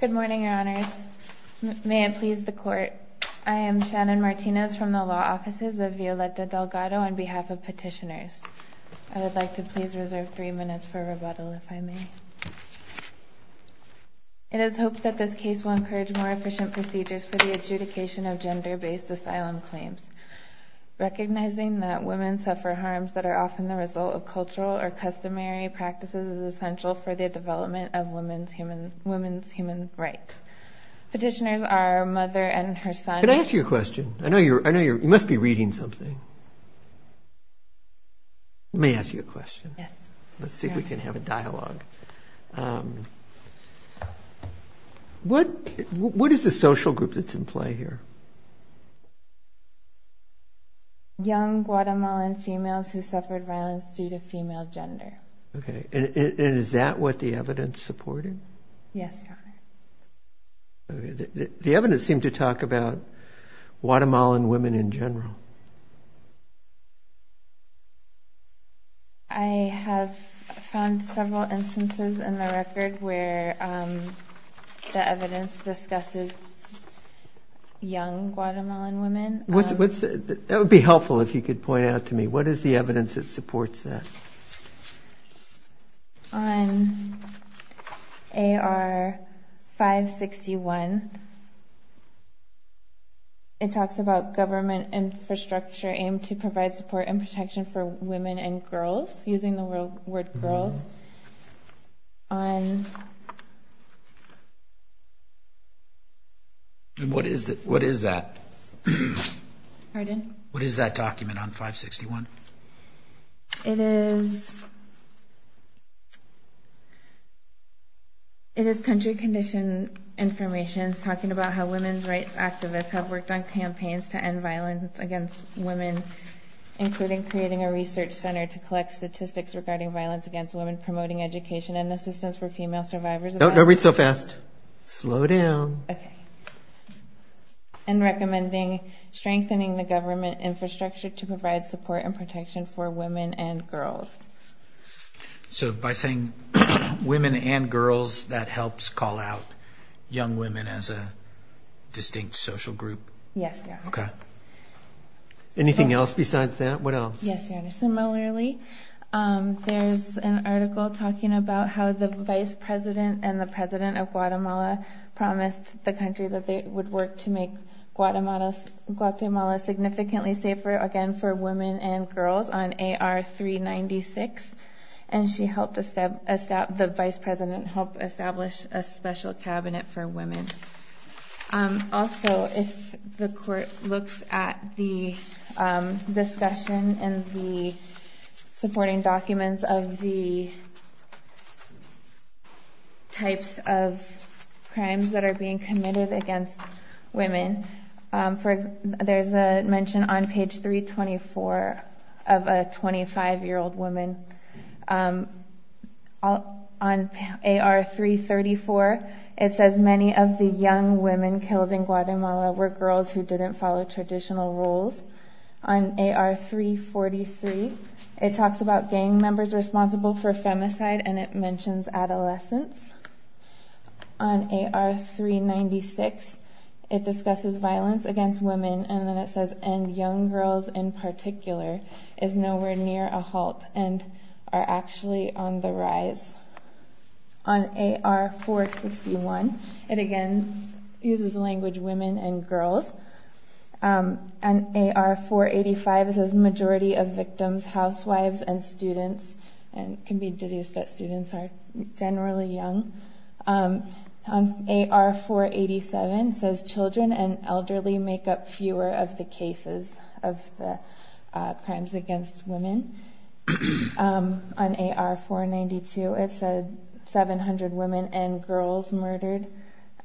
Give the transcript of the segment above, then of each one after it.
Good morning, your honors. May it please the court, I am Shannon Martinez from the law offices of Violeta Delgado on behalf of petitioners. I would like to please reserve three minutes for rebuttal if I may. It is hoped that this case will encourage more efficient procedures for the adjudication of gender-based asylum claims. Recognizing that women suffer harms that are often the result of cultural or customary practices is essential for the development of women's human rights. Petitioners are mother and her son. Can I ask you a question? I know you must be reading something. Let me ask you a question. Yes. Let's see if we can have a dialogue. What is the social group that's in play here? Young Guatemalan females who suffered violence due to female gender. Okay, and is that what the evidence supported? Yes, your honor. The evidence seemed to talk about Guatemalan women in general. I have found several instances in the record where the evidence discusses young Guatemalan women. That would be helpful if you could point out to me, what is the evidence that supports that? On AR 561, it talks about government infrastructure aimed to provide support and protection for women and girls, using the word girls. And what is that? Pardon? What is that document on 561? It is country condition information talking about how women's rights activists have worked on campaigns to end violence against women, including creating a research center to collect statistics regarding violence against women, promoting education and assistance for female survivors. No, no, read so fast. Slow down. Okay. And recommending strengthening the government infrastructure to provide support and protection for women and girls. So by saying women and girls, that helps call out young women as a distinct social group? Yes, your honor. Okay. Anything else besides that? What else? Yes, your honor. Similarly, there's an article talking about how the vice president and the president of Guatemala promised the country that they would work to make Guatemala significantly safer again, for women and girls on AR 396. And she helped the vice president help establish a special cabinet for women. Also, if the court looks at the discussion and the supporting documents of the types of crimes that are being committed against women, for example, there's a mention on page 324 of a 25 year old woman. On AR 334, it says many of the young women killed in Guatemala were girls who didn't follow traditional rules. On AR 343, it talks about gang members responsible for femicide and it mentions adolescents. On AR 396, it discusses violence against women and then it says, and young girls in particular is nowhere near a halt and are actually on the rise. On AR 461, it again, uses the language women and girls. On AR 485, it says majority of victims, housewives and students and can be deduced that students are generally young. On AR 487, it says children and elderly make up fewer of the cases of the crimes against women. On AR 492, it said 700 women and girls murdered.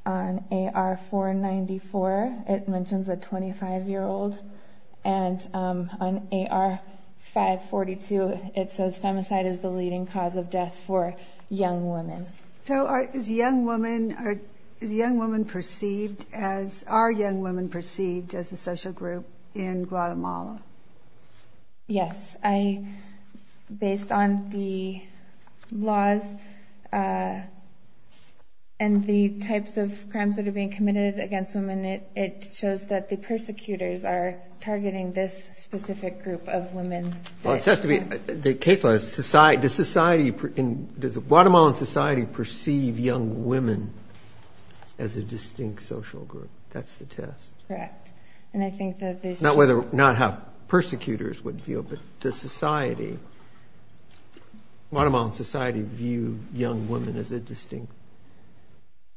On AR 494, it mentions a 25 year old. And on AR 542, it says femicide is the leading cause of death for young women. So is young women perceived as, are young women perceived as a social group in Guatemala? Yes, I, based on the laws and the types of crimes that are being committed against women, it shows that the persecutors are targeting this specific group of women. Well, it says to me, the case law is society, does society in, does the Guatemalan society perceive young women as a distinct social group? That's the test. Correct. And I think that there's- Not whether, not how persecutors would feel, but does society, Guatemalan society view young women as a distinct,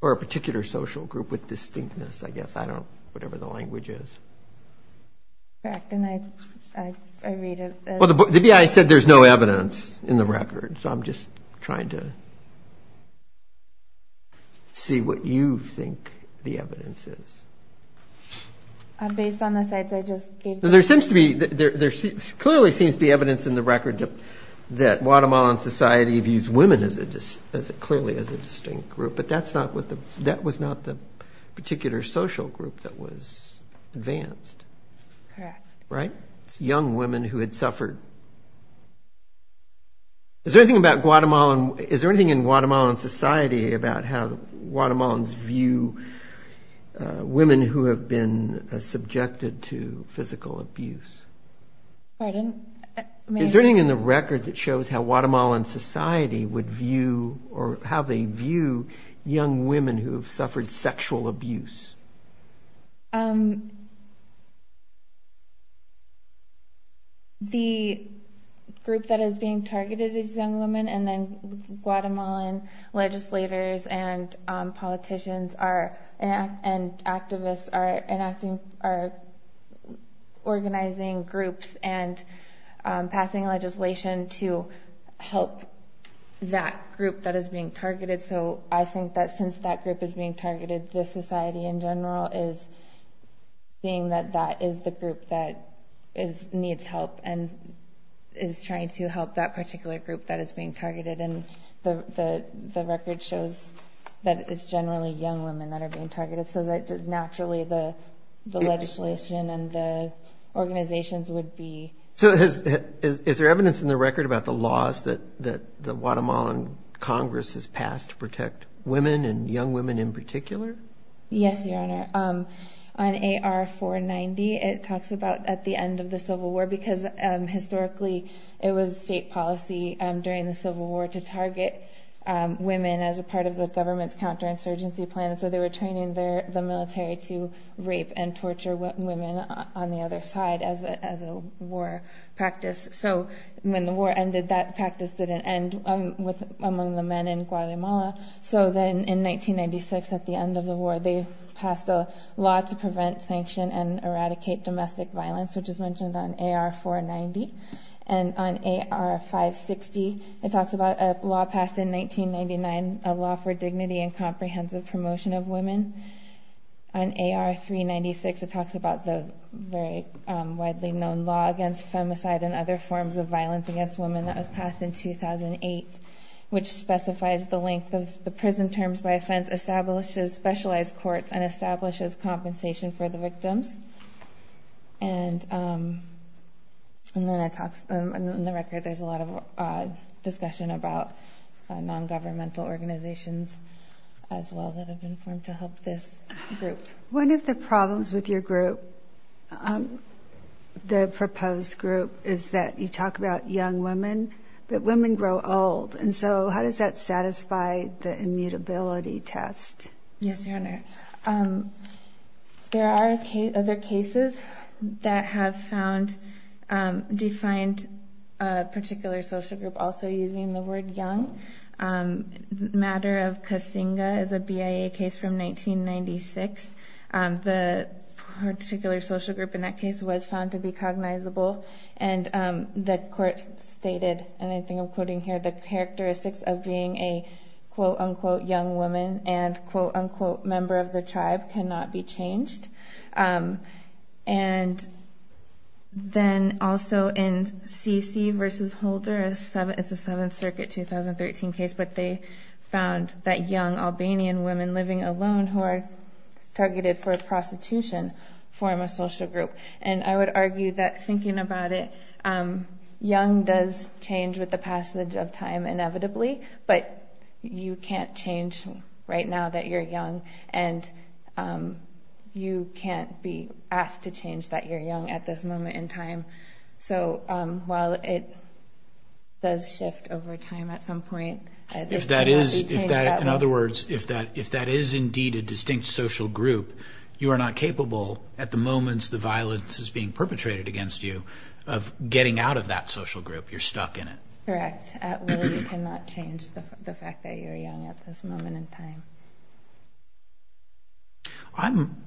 or a particular social group with distinctness, I guess, I don't, whatever the language is. Correct, and I read it as- Well, the BI said there's no evidence in the record. So I'm just trying to see what you think the evidence is. Based on the sites I just gave- There seems to be, there clearly seems to be evidence in the record that Guatemalan society views women as a distinct, clearly as a distinct group. But that's not what the, that was not the particular social group that was advanced. Correct. Right, it's young women who had suffered. Is there anything about Guatemalan, is there anything in Guatemalan society about how Guatemalans view women who have been subjected to physical abuse? Pardon? Is there anything in the record that shows how Guatemalan society would view, or how they view young women who have suffered sexual abuse? The group that is being targeted is young women, and then Guatemalan legislators and politicians are, and activists are enacting, are organizing groups and passing legislation to help that group that is being targeted. So I think that since that group is being targeted, the society in general is seeing that that is the group that needs help and is trying to help that particular group that is being targeted. And the record shows that it's generally young women that are being targeted. So that naturally the legislation and the organizations would be- So is there evidence in the record about the laws that the Guatemalan Congress has passed to protect women and young women in particular? Yes, Your Honor. On AR-490, it talks about at the end of the Civil War, because historically it was state policy during the Civil War to target women as a part of the government's counterinsurgency plan. So they were training the military to rape and torture women on the other side as a war practice. So when the war ended, that practice didn't end among the men in Guatemala. So then in 1996, at the end of the war, they passed a law to prevent sanction and eradicate domestic violence, which is mentioned on AR-490. And on AR-560, it talks about a law passed in 1999, a law for dignity and comprehensive promotion of women. On AR-396, it talks about the very widely known law against femicide and other forms of violence against women that was passed in 2008, which specifies the length of the prison terms by offense, establishes specialized courts, and establishes compensation for the victims. And then in the record, there's a lot of discussion about non-governmental organizations as well that have been formed to help this group. One of the problems with your group, the proposed group, is that you talk about young women, but women grow old. And so how does that satisfy the immutability test? Yes, Your Honor. There are other cases that have found, defined a particular social group also using the word young. The matter of Kasinga is a BIA case from 1996. The particular social group in that case was found to be cognizable. And the court stated, and I think I'm quoting here, the characteristics of being a quote-unquote young woman and quote-unquote member of the tribe cannot be changed. And then also in Sisi v. Holder, it's a Seventh Circuit 2013 case, but they found that young Albanian women living alone who are targeted for prostitution form a social group. And I would argue that thinking about it, young does change with the passage of time inevitably, but you can't change right now that you're young, and you can't be asked to change that you're young at this moment in time. So while it does shift over time at some point, it cannot be changed at will. In other words, if that is indeed a distinct social group, you are not capable at the moments the violence is being perpetrated against you of getting out of that social group. You're stuck in it. Correct. At will, you cannot change the fact that you're young at this moment in time.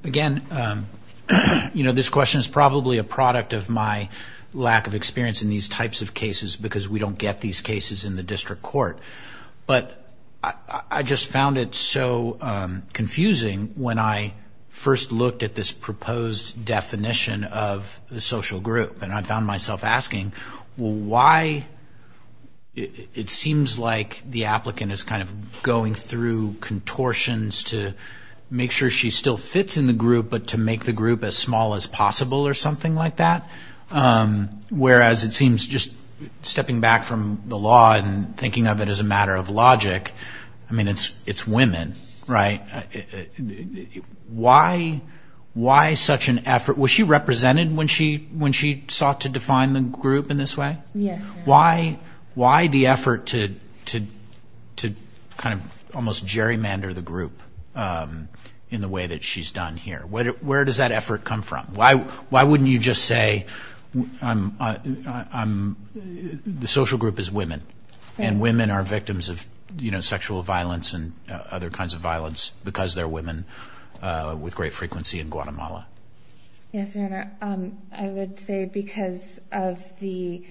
Again, this question is probably a product of my lack of experience in these types of cases because we don't get these cases in the district court. But I just found it so confusing when I first looked at this proposed definition of the social group. And I found myself asking, well, why it seems like the applicant is kind of going through contortions to make sure she still fits in the group, but to make the group as small as possible or something like that. Whereas it seems just stepping back from the law and thinking of it as a matter of logic, I mean, it's women, right? Why such an effort? Was she represented when she sought to define the group in this way? Yes. Why the effort to kind of almost gerrymander the group in the way that she's done here? Where does that effort come from? Why wouldn't you just say the social group is women and women are victims of sexual violence and other kinds of violence because they're women with great frequency in Guatemala? Yes, Your Honor. I would say because of the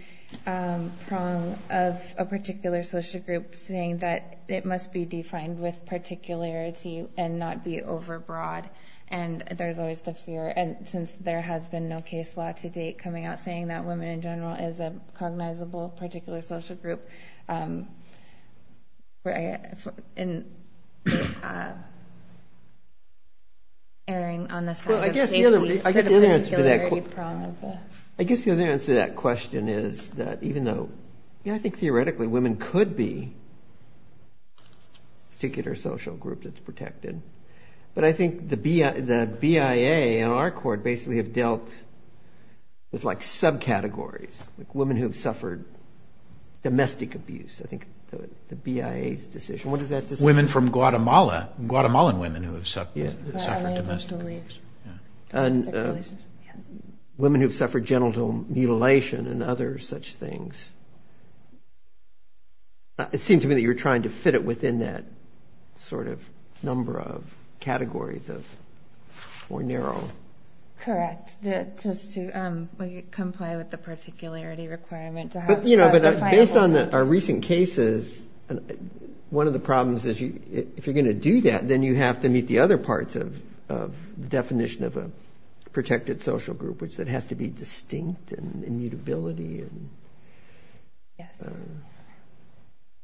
prong of a particular social group saying that it must be defined with particularity and not be overbroad. And there's always the fear. And since there has been no case law to date coming out saying that women in general is a cognizable particular social group, erring on the side of safety. I guess the other answer to that question is that even though, I mean, I think theoretically women could be particular social groups that's protected. But I think the BIA and our court basically have dealt with like subcategories, like women who've suffered domestic abuse. I think the BIA's decision. What does that decide? Women from Guatemala, Guatemalan women who have suffered domestic abuse. Domestic abuse, yeah. Women who've suffered genital mutilation and other such things. It seemed to me that you were trying to fit it in that sort of number of categories of more narrow. Correct. Just to comply with the particularity requirement. But based on our recent cases, one of the problems is if you're gonna do that, then you have to meet the other parts of the definition of a protected social group, which that has to be distinct and immutability and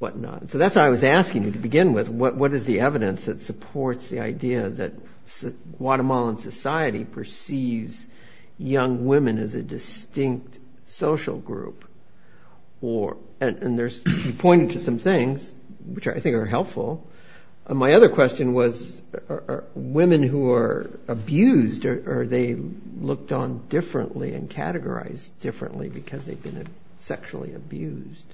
whatnot. So that's what I was asking you to begin with. What is the evidence that supports the idea that Guatemalan society perceives young women as a distinct social group? And you pointed to some things which I think are helpful. My other question was women who are abused or they looked on differently and categorized differently because they've been sexually abused.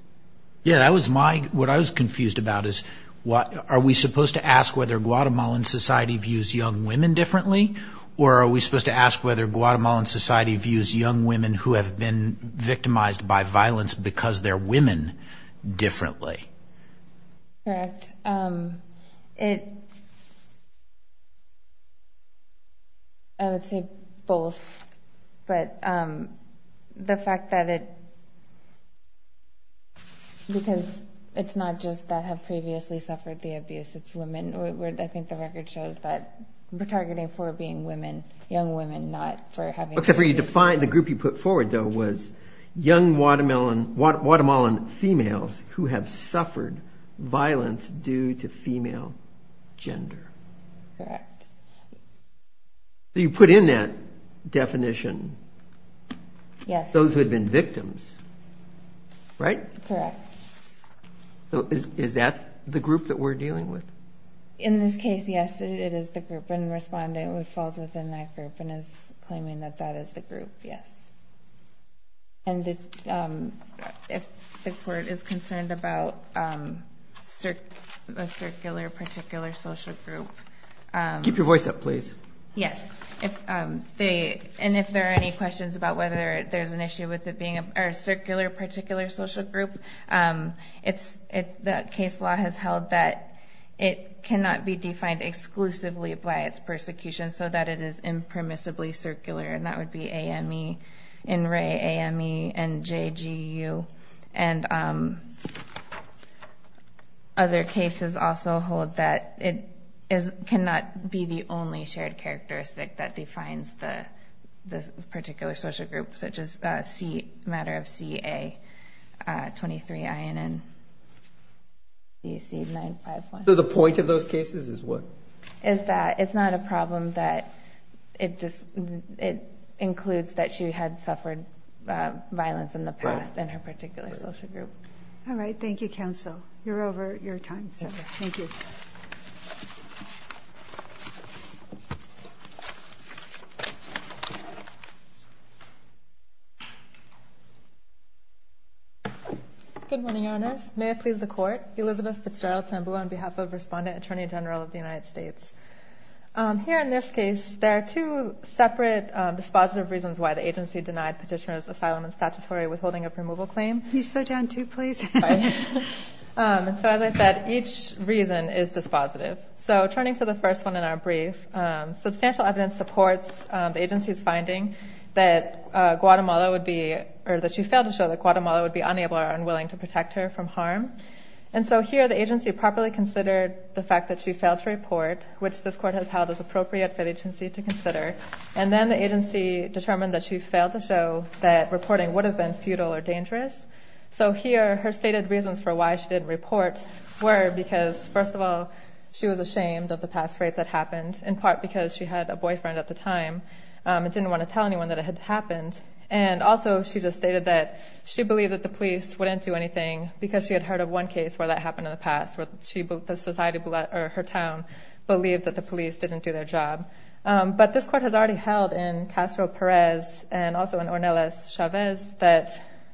Yeah, that was my, what I was confused about is are we supposed to ask whether Guatemalan society views young women differently? Or are we supposed to ask whether Guatemalan society views young women who have been victimized by violence because they're women differently? Correct. I would say both. But the fact that it, because it's not just that have previously suffered the abuse, it's women, or I think the record shows that we're targeting for being women, young women, not for having- Except for you defined the group you put forward though was young Guatemalan females who have suffered violence due to female gender. Correct. So you put in that definition those who had been victims. Right? Correct. So is that the group that we're dealing with? In this case, yes, it is the group. And respondent falls within that group and is claiming that that is the group, yes. And if the court is concerned about a circular particular social group- Keep your voice up, please. Yes. And if there are any questions about whether there's an issue with it being a circular particular social group, the case law has held that it cannot be defined exclusively by its persecution so that it is impermissibly circular. And that would be AME, INRE, AME, and JGU. And other cases also hold that it cannot be defined the only shared characteristic that defines the particular social group such as C, matter of CA 23INN, DC951. So the point of those cases is what? Is that it's not a problem that it includes that she had suffered violence in the past in her particular social group. All right, thank you, counsel. You're over your time, sir. Thank you. Thank you. Good morning, your honors. May I please the court? Elizabeth Fitzgerald-Sambu on behalf of Respondent Attorney General of the United States. Here in this case, there are two separate dispositive reasons why the agency denied petitioner's asylum and statutory withholding of removal claim. Can you slow down too, please? Sorry. And so as I said, each reason is dispositive. So turning to the first one in our brief, substantial evidence supports the agency's finding that Guatemala would be, or that she failed to show that Guatemala would be unable or unwilling to protect her from harm. And so here, the agency properly considered the fact that she failed to report, which this court has held as appropriate for the agency to consider. And then the agency determined that she failed to show that reporting would have been futile or dangerous. So here, her stated reasons for why she didn't report were because, first of all, she was ashamed of the past rape that happened, in part because she had a boyfriend at the time and didn't want to tell anyone that it had happened. And also, she just stated that she believed that the police wouldn't do anything because she had heard of one case where that happened in the past, where the society or her town believed that the police didn't do their job. But this court has already held in Castro Perez and also in Ornelas Chavez that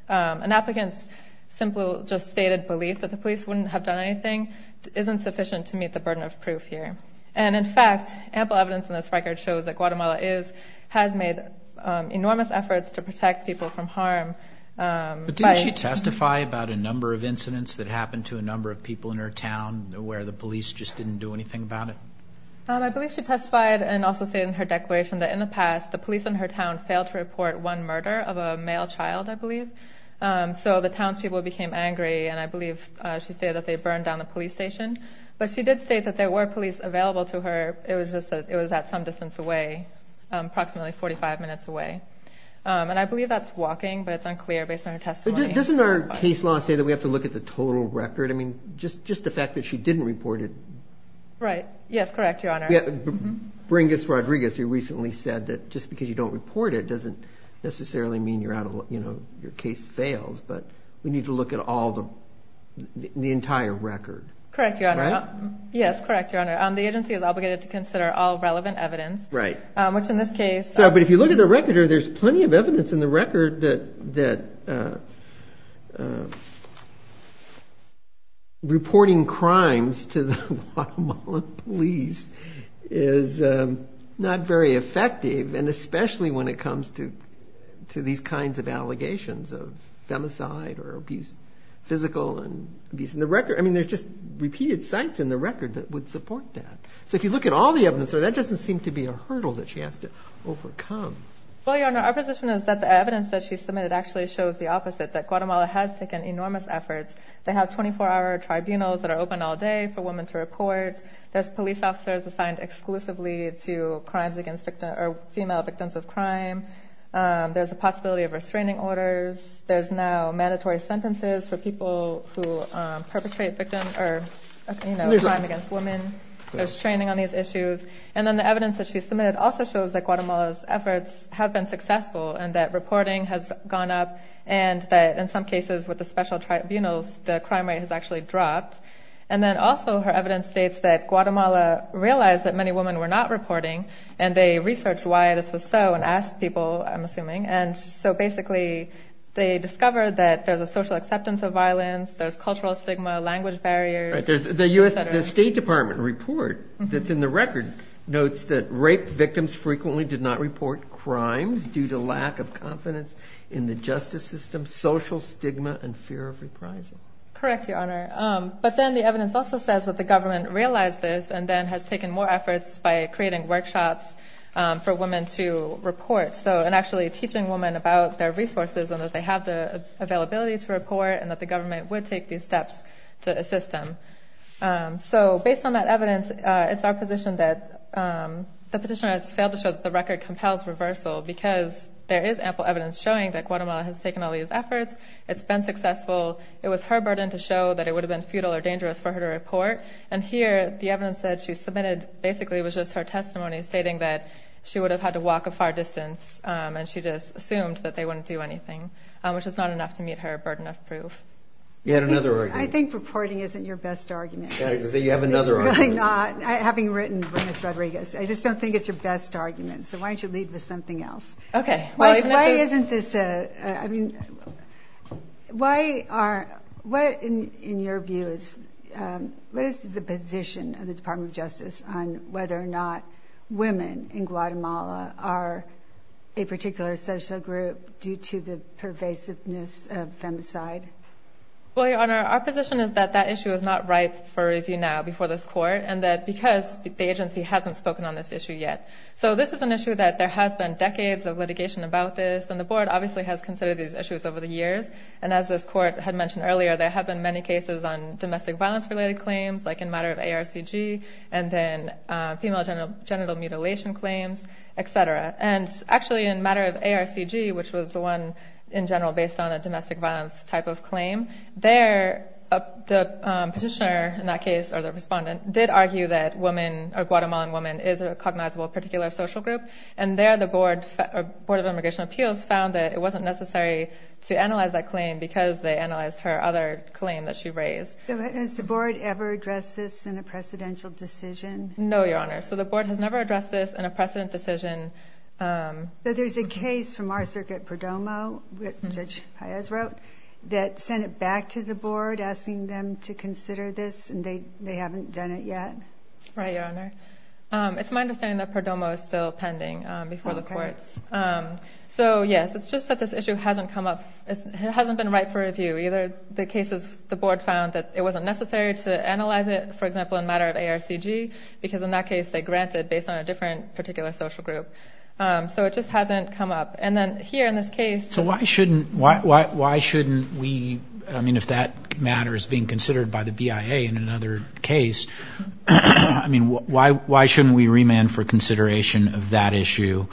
an applicant's simple just stated belief that the police wouldn't have done anything isn't sufficient to meet the burden of proof here. And in fact, ample evidence in this record shows that Guatemala has made enormous efforts to protect people from harm. But didn't she testify about a number of incidents that happened to a number of people in her town where the police just didn't do anything about it? I believe she testified and also stated in her declaration that in the past, the police in her town failed to report one murder of a male child, I believe. So the townspeople became angry and I believe she said that they burned down the police station. But she did state that there were police available to her. It was just that it was at some distance away, approximately 45 minutes away. And I believe that's walking, but it's unclear based on her testimony. Doesn't our case law say that we have to look at the total record? I mean, just the fact that she didn't report it. Right, yes, correct, Your Honor. Bringus Rodriguez, who recently said that just because you don't report it doesn't necessarily mean your case fails, but we need to look at the entire record. Correct, Your Honor. Yes, correct, Your Honor. The agency is obligated to consider all relevant evidence. Right. Which in this case. But if you look at the record, there's plenty of evidence in the record that reporting crimes to the Guatemalan police is not very effective. And especially when it comes to these kinds of allegations of femicide or abuse, physical abuse. And the record, I mean, there's just repeated sites in the record that would support that. So if you look at all the evidence there, that doesn't seem to be a hurdle that she has to overcome. Well, Your Honor, our position is that the evidence that she submitted actually shows the opposite, that Guatemala has taken enormous efforts. They have 24-hour tribunals that are open all day for women to report. There's police officers assigned exclusively to female victims of crime. There's a possibility of restraining orders. There's now mandatory sentences for people who perpetrate crime against women. There's training on these issues. And then the evidence that she submitted also shows that Guatemala's efforts have been successful and that reporting has gone up. And that in some cases with the special tribunals, the crime rate has actually dropped. And then also her evidence states that Guatemala realized that many women were not reporting and they researched why this was so and asked people, I'm assuming. And so basically they discovered that there's a social acceptance of violence, there's cultural stigma, language barriers, et cetera. The State Department report that's in the record notes that rape victims frequently did not report crimes due to lack of confidence in the justice system, social stigma, and fear of reprisal. Correct, Your Honor. But then the evidence also says that the government realized this and then has taken more efforts by creating workshops for women to report. So, and actually teaching women about their resources and that they have the availability to report and that the government would take these steps to assist them. So based on that evidence, it's our position that the petitioner has failed to show that the record compels reversal because there is ample evidence showing that Guatemala has taken all these efforts, it's been successful. It was her burden to show that it would have been futile or dangerous for her to report. And here, the evidence that she submitted basically was just her testimony stating that she would have had to walk a far distance and she just assumed that they wouldn't do anything, which was not enough to meet her burden of proof. You had another argument. I think reporting isn't your best argument. So you have another argument. It's really not. Having written for Ms. Rodriguez, I just don't think it's your best argument. So why don't you lead with something else? Okay. Why isn't this a, I mean, why are, what in your view is, what is the position of the Department of Justice on whether or not women in Guatemala are a particular social group due to the pervasiveness of femicide? Well, Your Honor, our position is that that issue is not ripe for review now before this court and that because the agency hasn't spoken on this issue yet. So this is an issue that there has been decades of litigation about this and the board obviously has considered these issues over the years. And as this court had mentioned earlier, there have been many cases on domestic violence related claims, like in matter of ARCG and then female genital mutilation claims, et cetera. And actually in matter of ARCG, which was the one in general based on a domestic violence type of claim, there the petitioner in that case, or the respondent did argue that women, or Guatemalan woman is a cognizable particular social group. And there the board of immigration appeals found that it wasn't necessary to analyze that claim because they analyzed her other claim that she raised. So has the board ever addressed this in a precedential decision? No, Your Honor. So the board has never addressed this in a precedent decision. So there's a case from our circuit, Perdomo, which Judge Paez wrote, that sent it back to the board asking them to consider this and they haven't done it yet? Right, Your Honor. It's my understanding that Perdomo is still pending before the courts. So yes, it's just that this issue hasn't come up, it hasn't been right for review. Either the cases the board found that it wasn't necessary to analyze it, for example, in a matter of ARCG, because in that case they granted based on a different particular social group. So it just hasn't come up. And then here in this case. So why shouldn't we, I mean, if that matter is being considered by the BIA in another case, I mean, why shouldn't we remand for consideration of that issue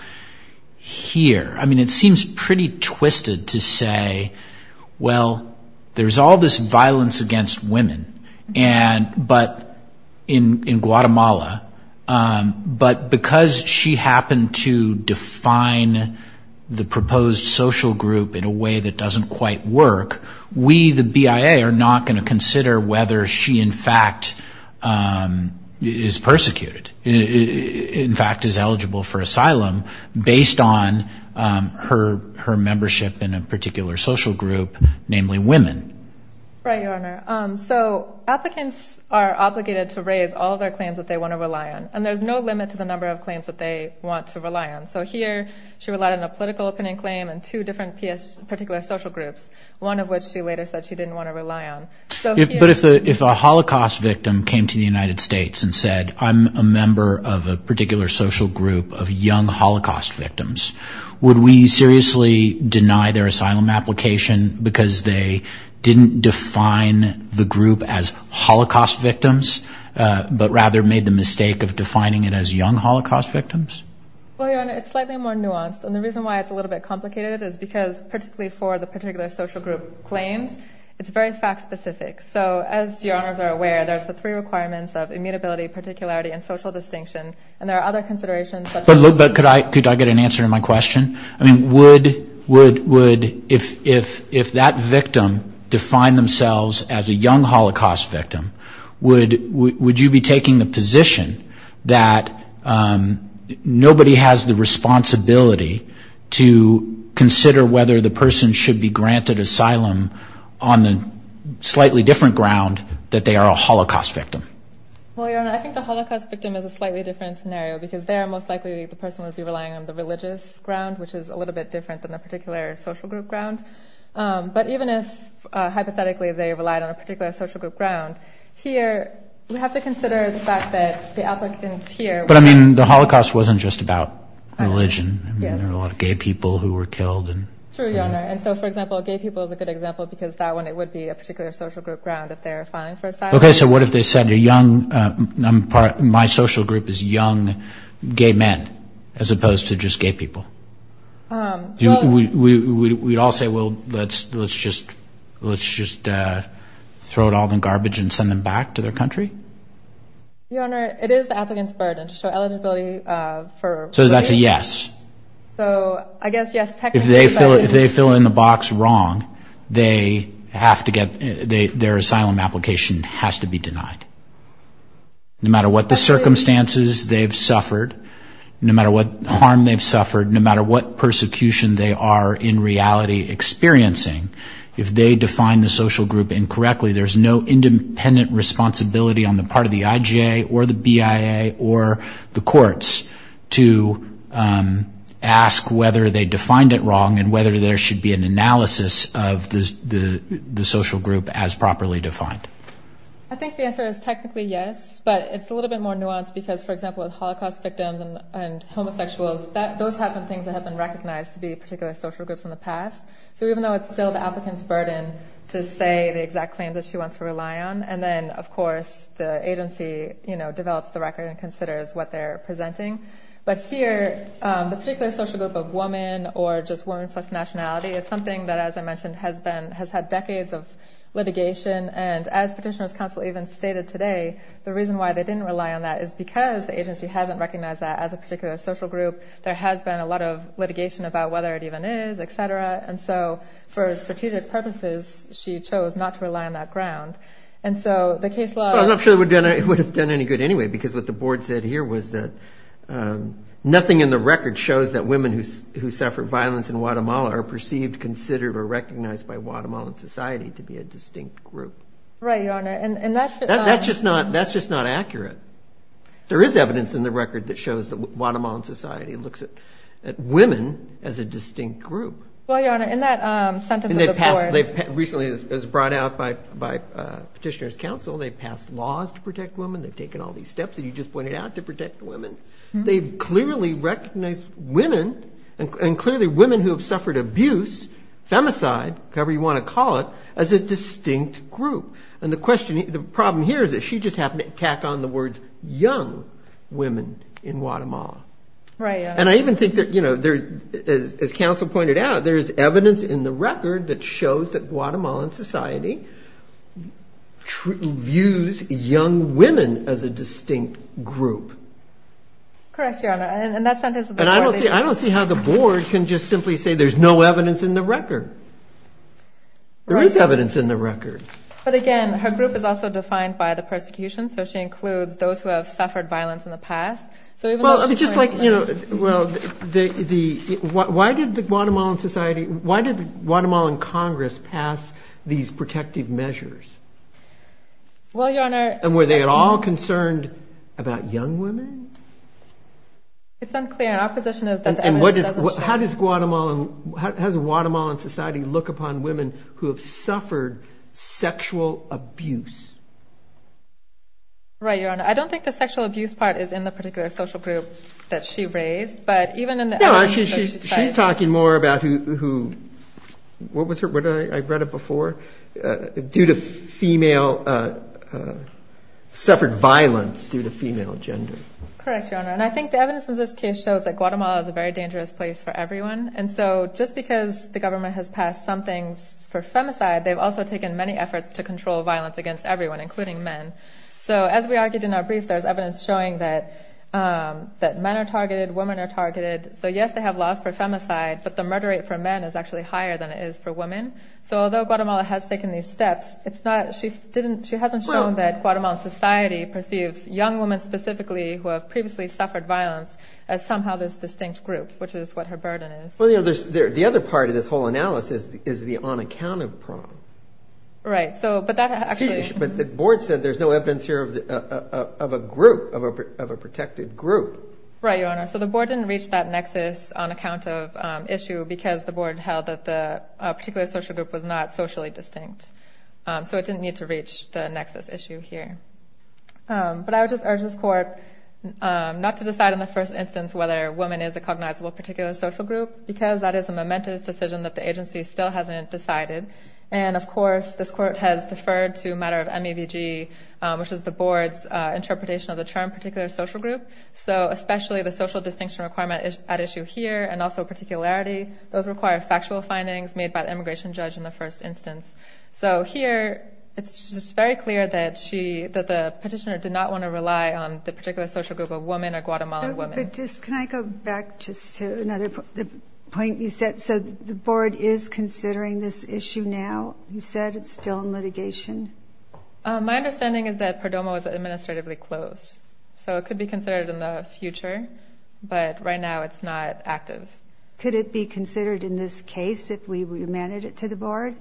here? I mean, it seems pretty twisted to say, well, there's all this violence against women, but in Guatemala, but because she happened to define the proposed social group in a way that doesn't quite work, we, the BIA, are not gonna consider whether she in fact is persecuted, in fact is eligible for asylum based on her membership in a particular social group, namely women. Right, Your Honor. So applicants are obligated to raise all of their claims that they wanna rely on. And there's no limit to the number of claims that they want to rely on. So here, she relied on a political opinion claim and two different particular social groups, one of which she later said she didn't wanna rely on. But if a Holocaust victim came to the United States and said, I'm a member of a particular social group of young Holocaust victims, would we seriously deny their asylum application because they didn't define the group as Holocaust victims, but rather made the mistake of defining it as young Holocaust victims? Well, Your Honor, it's slightly more nuanced. And the reason why it's a little bit complicated is because particularly for the particular social group claims, it's very fact-specific. So as Your Honors are aware, there's the three requirements of immutability, particularity, and social distinction. And there are other considerations such as- But look, could I get an answer to my question? I mean, would, if that victim defined themselves as a young Holocaust victim, would you be taking the position that nobody has the responsibility to consider whether the person should be granted asylum on the slightly different ground that they are a Holocaust victim? Well, Your Honor, I think the Holocaust victim is a slightly different scenario because they are most likely, the person would be relying on the religious ground, which is a little bit different than the particular social group ground. But even if, hypothetically, they relied on a particular social group ground, here, we have to consider the fact that the applicants here- But I mean, the Holocaust wasn't just about religion. I mean, there were a lot of gay people who were killed. True, Your Honor. And so, for example, gay people is a good example because that one, it would be a particular social group ground if they're filing for asylum. Okay, so what if they said, a young, my social group is young gay men, as opposed to just gay people? We'd all say, well, let's just throw it all in garbage and send them back to their country? Your Honor, it is the applicant's burden to show eligibility for- So that's a yes. So, I guess, yes, technically, but- If they fill in the box wrong, they have to get, their asylum application has to be denied. No matter what the circumstances they've suffered, no matter what harm they've suffered, no matter what persecution they are, in reality, experiencing, if they define the social group incorrectly, there's no independent responsibility on the part of the IGA or the BIA or the courts to ask whether they defined it wrong and whether there should be an analysis of the social group as properly defined. I think the answer is technically yes, but it's a little bit more nuanced because, for example, with Holocaust victims and homosexuals, those have been things that have been recognized to be particular social groups in the past. So even though it's still the applicant's burden to say the exact claims that she wants to rely on, and then, of course, the agency develops the record and considers what they're presenting. But here, the particular social group of woman or just woman plus nationality is something that, as I mentioned, has had decades of litigation. And as Petitioner's Counsel even stated today, the reason why they didn't rely on that is because the agency hasn't recognized that as a particular social group. There has been a lot of litigation about whether it even is, et cetera. And so for strategic purposes, she chose not to rely on that ground. And so the case law- Well, I'm not sure it would have done any good anyway because what the board said here was that nothing in the record shows that women who suffer violence in Guatemala are perceived, considered, or recognized by Guatemalan society to be a distinct group. Right, Your Honor, and that's- That's just not accurate. There is evidence in the record that shows that Guatemalan society looks at women as a distinct group. Well, Your Honor, in that sentence of the board- Recently, it was brought out by Petitioner's Counsel. They passed laws to protect women. They've taken all these steps that you just pointed out to protect women. They've clearly recognized women, and clearly women who have suffered abuse, femicide, however you want to call it, as a distinct group. And the problem here is that she just happened to tack on the words young women in Guatemala. Right, Your Honor. And I even think that, as Counsel pointed out, there is evidence in the record that shows that Guatemalan society views young women as a distinct group. Correct, Your Honor. And that sentence of the board- And I don't see how the board can just simply say there's no evidence in the record. There is evidence in the record. But again, her group is also defined by the persecution, so she includes those who have suffered violence in the past. So even though she- Well, I mean, just like, you know, well, why did the Guatemalan society, why did the Guatemalan Congress pass these protective measures? Well, Your Honor- And were they at all concerned about young women? It's unclear. Our position is that the evidence doesn't show- How does Guatemalan society look upon women who have suffered sexual abuse? Right, Your Honor. I don't think the sexual abuse part is in the particular social group that she raised, but even in the- No, she's talking more about who, what was her, I read it before, due to female, suffered violence due to female gender. Correct, Your Honor. And I think the evidence in this case shows that Guatemala is a very dangerous place for everyone. And so just because the government has passed some things for femicide, they've also taken many efforts to control violence against everyone, including men. So as we argued in our brief, there's evidence showing that men are targeted, women are targeted. So yes, they have laws for femicide, but the murder rate for men is actually higher than it is for women. So although Guatemala has taken these steps, it's not, she hasn't shown that Guatemalan society perceives young women specifically who have previously suffered violence as somehow this distinct group, which is what her burden is. Well, the other part of this whole analysis is the on-account of problem. Right, so, but that actually- But the board said there's no evidence here of a group, of a protected group. Right, Your Honor. So the board didn't reach that nexus on account of issue because the board held that the particular social group was not socially distinct. So it didn't need to reach the nexus issue here. But I would just urge this court not to decide in the first instance whether a woman is a cognizable particular social group because that is a momentous decision that the agency still hasn't decided. And of course, this court has deferred to a matter of MAVG, which is the board's interpretation of the term particular social group. So especially the social distinction requirement at issue here and also particularity, those require factual findings made by the immigration judge in the first instance. So here, it's just very clear that she, that the petitioner did not want to rely on the particular social group of woman or Guatemalan woman. But just, can I go back just to another point you said? So the board is considering this issue now? You said it's still in litigation. My understanding is that Perdomo is administratively closed. So it could be considered in the future. But right now, it's not active. Could it be considered in this case if we remanded it to the board?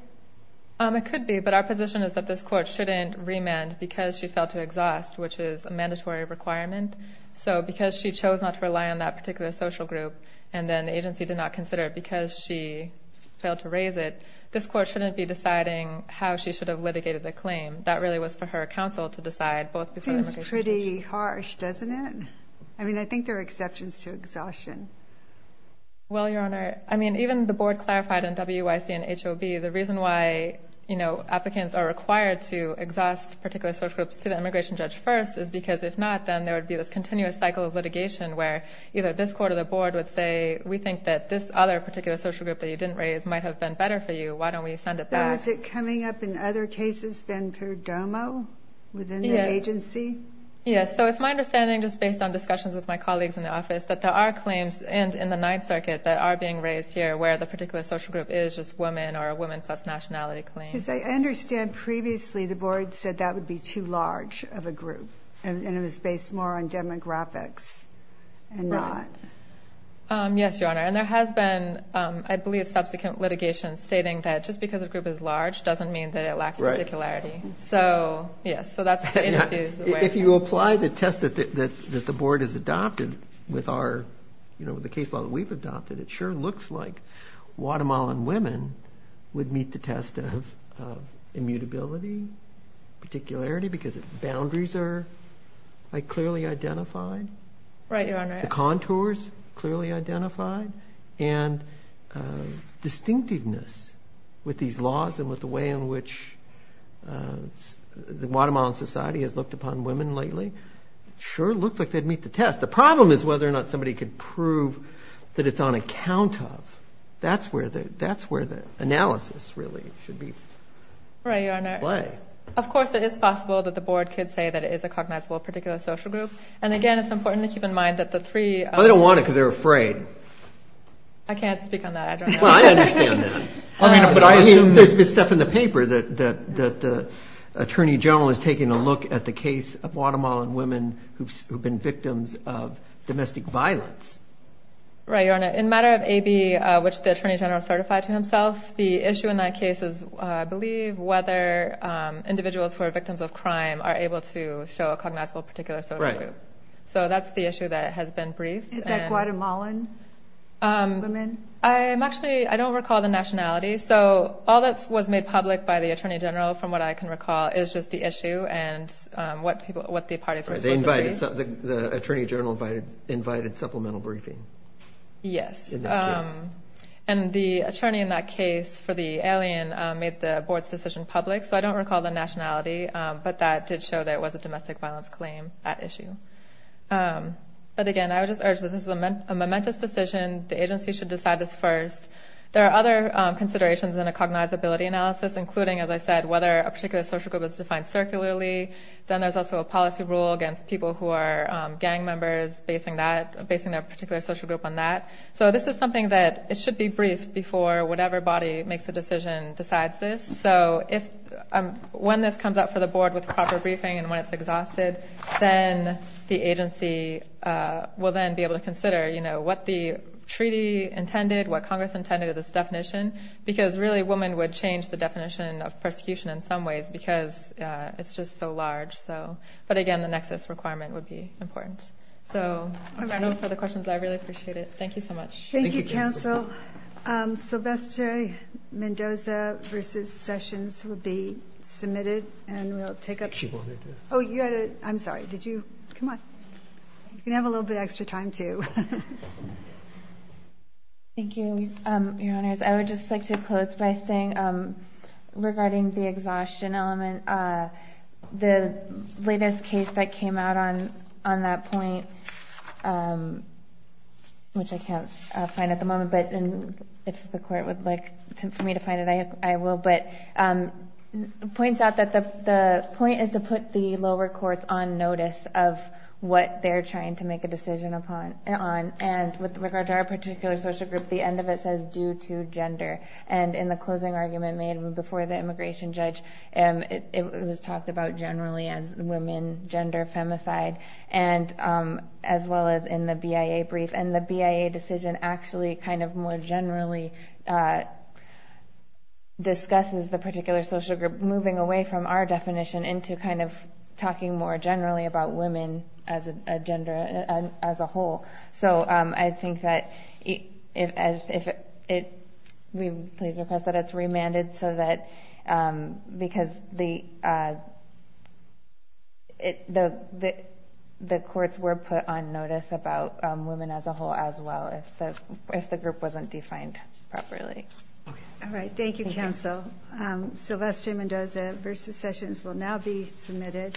It could be, but our position is that this court shouldn't remand because she failed to exhaust, which is a mandatory requirement. So because she chose not to rely on that particular social group, and then the agency did not consider it because she failed to raise it, this court shouldn't be deciding how she should have litigated the claim. That really was for her counsel to decide both before the immigration judge. Seems pretty harsh, doesn't it? I mean, I think there are exceptions to exhaustion. Well, Your Honor, I mean, even the board clarified in WYC and HOB, the reason why applicants are required to exhaust particular social groups to the immigration judge first is because if not, then there would be this continuous cycle of litigation where either this court or the board would say, we think that this other particular social group that you didn't raise might have been better for you. Why don't we send it back? So is it coming up in other cases than Perdomo within the agency? Yes, so it's my understanding, just based on discussions with my colleagues in the office, that there are claims in the Ninth Circuit that are being raised here where the particular social group is just women or a women plus nationality claim. Because I understand previously, the board said that would be too large of a group, and it was based more on demographics and not. Yes, Your Honor, and there has been, I believe, subsequent litigation stating that just because a group is large doesn't mean that it lacks particularity. So, yes, so that's the agency's way. If you apply the test that the board has adopted with the case law that we've adopted, it sure looks like Guatemalan women would meet the test of immutability, particularity, because the boundaries are clearly identified. Right, Your Honor. The contours clearly identified, and distinctiveness with these laws and with the way in which the Guatemalan society has looked upon women lately, sure looks like they'd meet the test. The problem is whether or not somebody could prove that it's on account of. That's where the analysis really should be. Right, Your Honor. Why? Of course, it is possible that the board could say that it is a cognizable particular social group. And again, it's important to keep in mind that the three- Well, they don't want it because they're afraid. I can't speak on that, I don't know. Well, I understand that. I mean, but I assume- There's been stuff in the paper that the Attorney General is taking a look at the case of Guatemalan women who've been victims of domestic violence. Right, Your Honor. In matter of AB, which the Attorney General certified to himself, the issue in that case is, I believe, whether individuals who are victims of crime are able to show a cognizable particular social group. So that's the issue that has been briefed. Is that Guatemalan women? I'm actually, I don't recall the nationality. So all that was made public by the Attorney General, from what I can recall, is just the issue and what the parties were supposed to agree. The Attorney General invited supplemental briefing. Yes. And the attorney in that case for the alien made the board's decision public. So I don't recall the nationality, but that did show that it was a domestic violence claim, that issue. But again, I would just urge that this is a momentous decision. The agency should decide this first. There are other considerations in a cognizability analysis, including, as I said, whether a particular social group is defined circularly. Then there's also a policy rule against people who are gang members, basing their particular social group on that. So this is something that it should be briefed before whatever body makes the decision decides this. So when this comes up for the board with proper briefing and when it's exhausted, then the agency will then be able to consider what the treaty intended, what Congress intended of this definition, because really women would change the definition of persecution in some ways, because it's just so large. But again, the nexus requirement would be important. So I don't know if there are other questions. I really appreciate it. Thank you so much. Thank you, counsel. Sylvester Mendoza versus Sessions would be submitted and we'll take up- She wanted to. Oh, you had a, I'm sorry. Did you, come on. You can have a little bit extra time too. Thank you, your honors. I would just like to close by saying regarding the exhaustion element, the latest case that came out on that point, which I can't find at the moment, but if the court would like for me to find it, I will. But it points out that the point is to put the lower courts on notice of what they're trying to make a decision upon. And with regard to our particular social group, the end of it says due to gender. And in the closing argument made before the immigration judge, it was talked about generally as women, gender, femicide, and as well as in the BIA brief. And the BIA decision actually kind of more generally discusses the particular social group, moving away from our definition into kind of talking more generally about women as a gender, as a whole. So I think that if it, we please request that it's remanded so that, because the, the courts were put on notice about women as a whole as well if the group wasn't defined properly. All right, thank you, counsel. Sylvester Mendoza versus Sessions will now be submitted.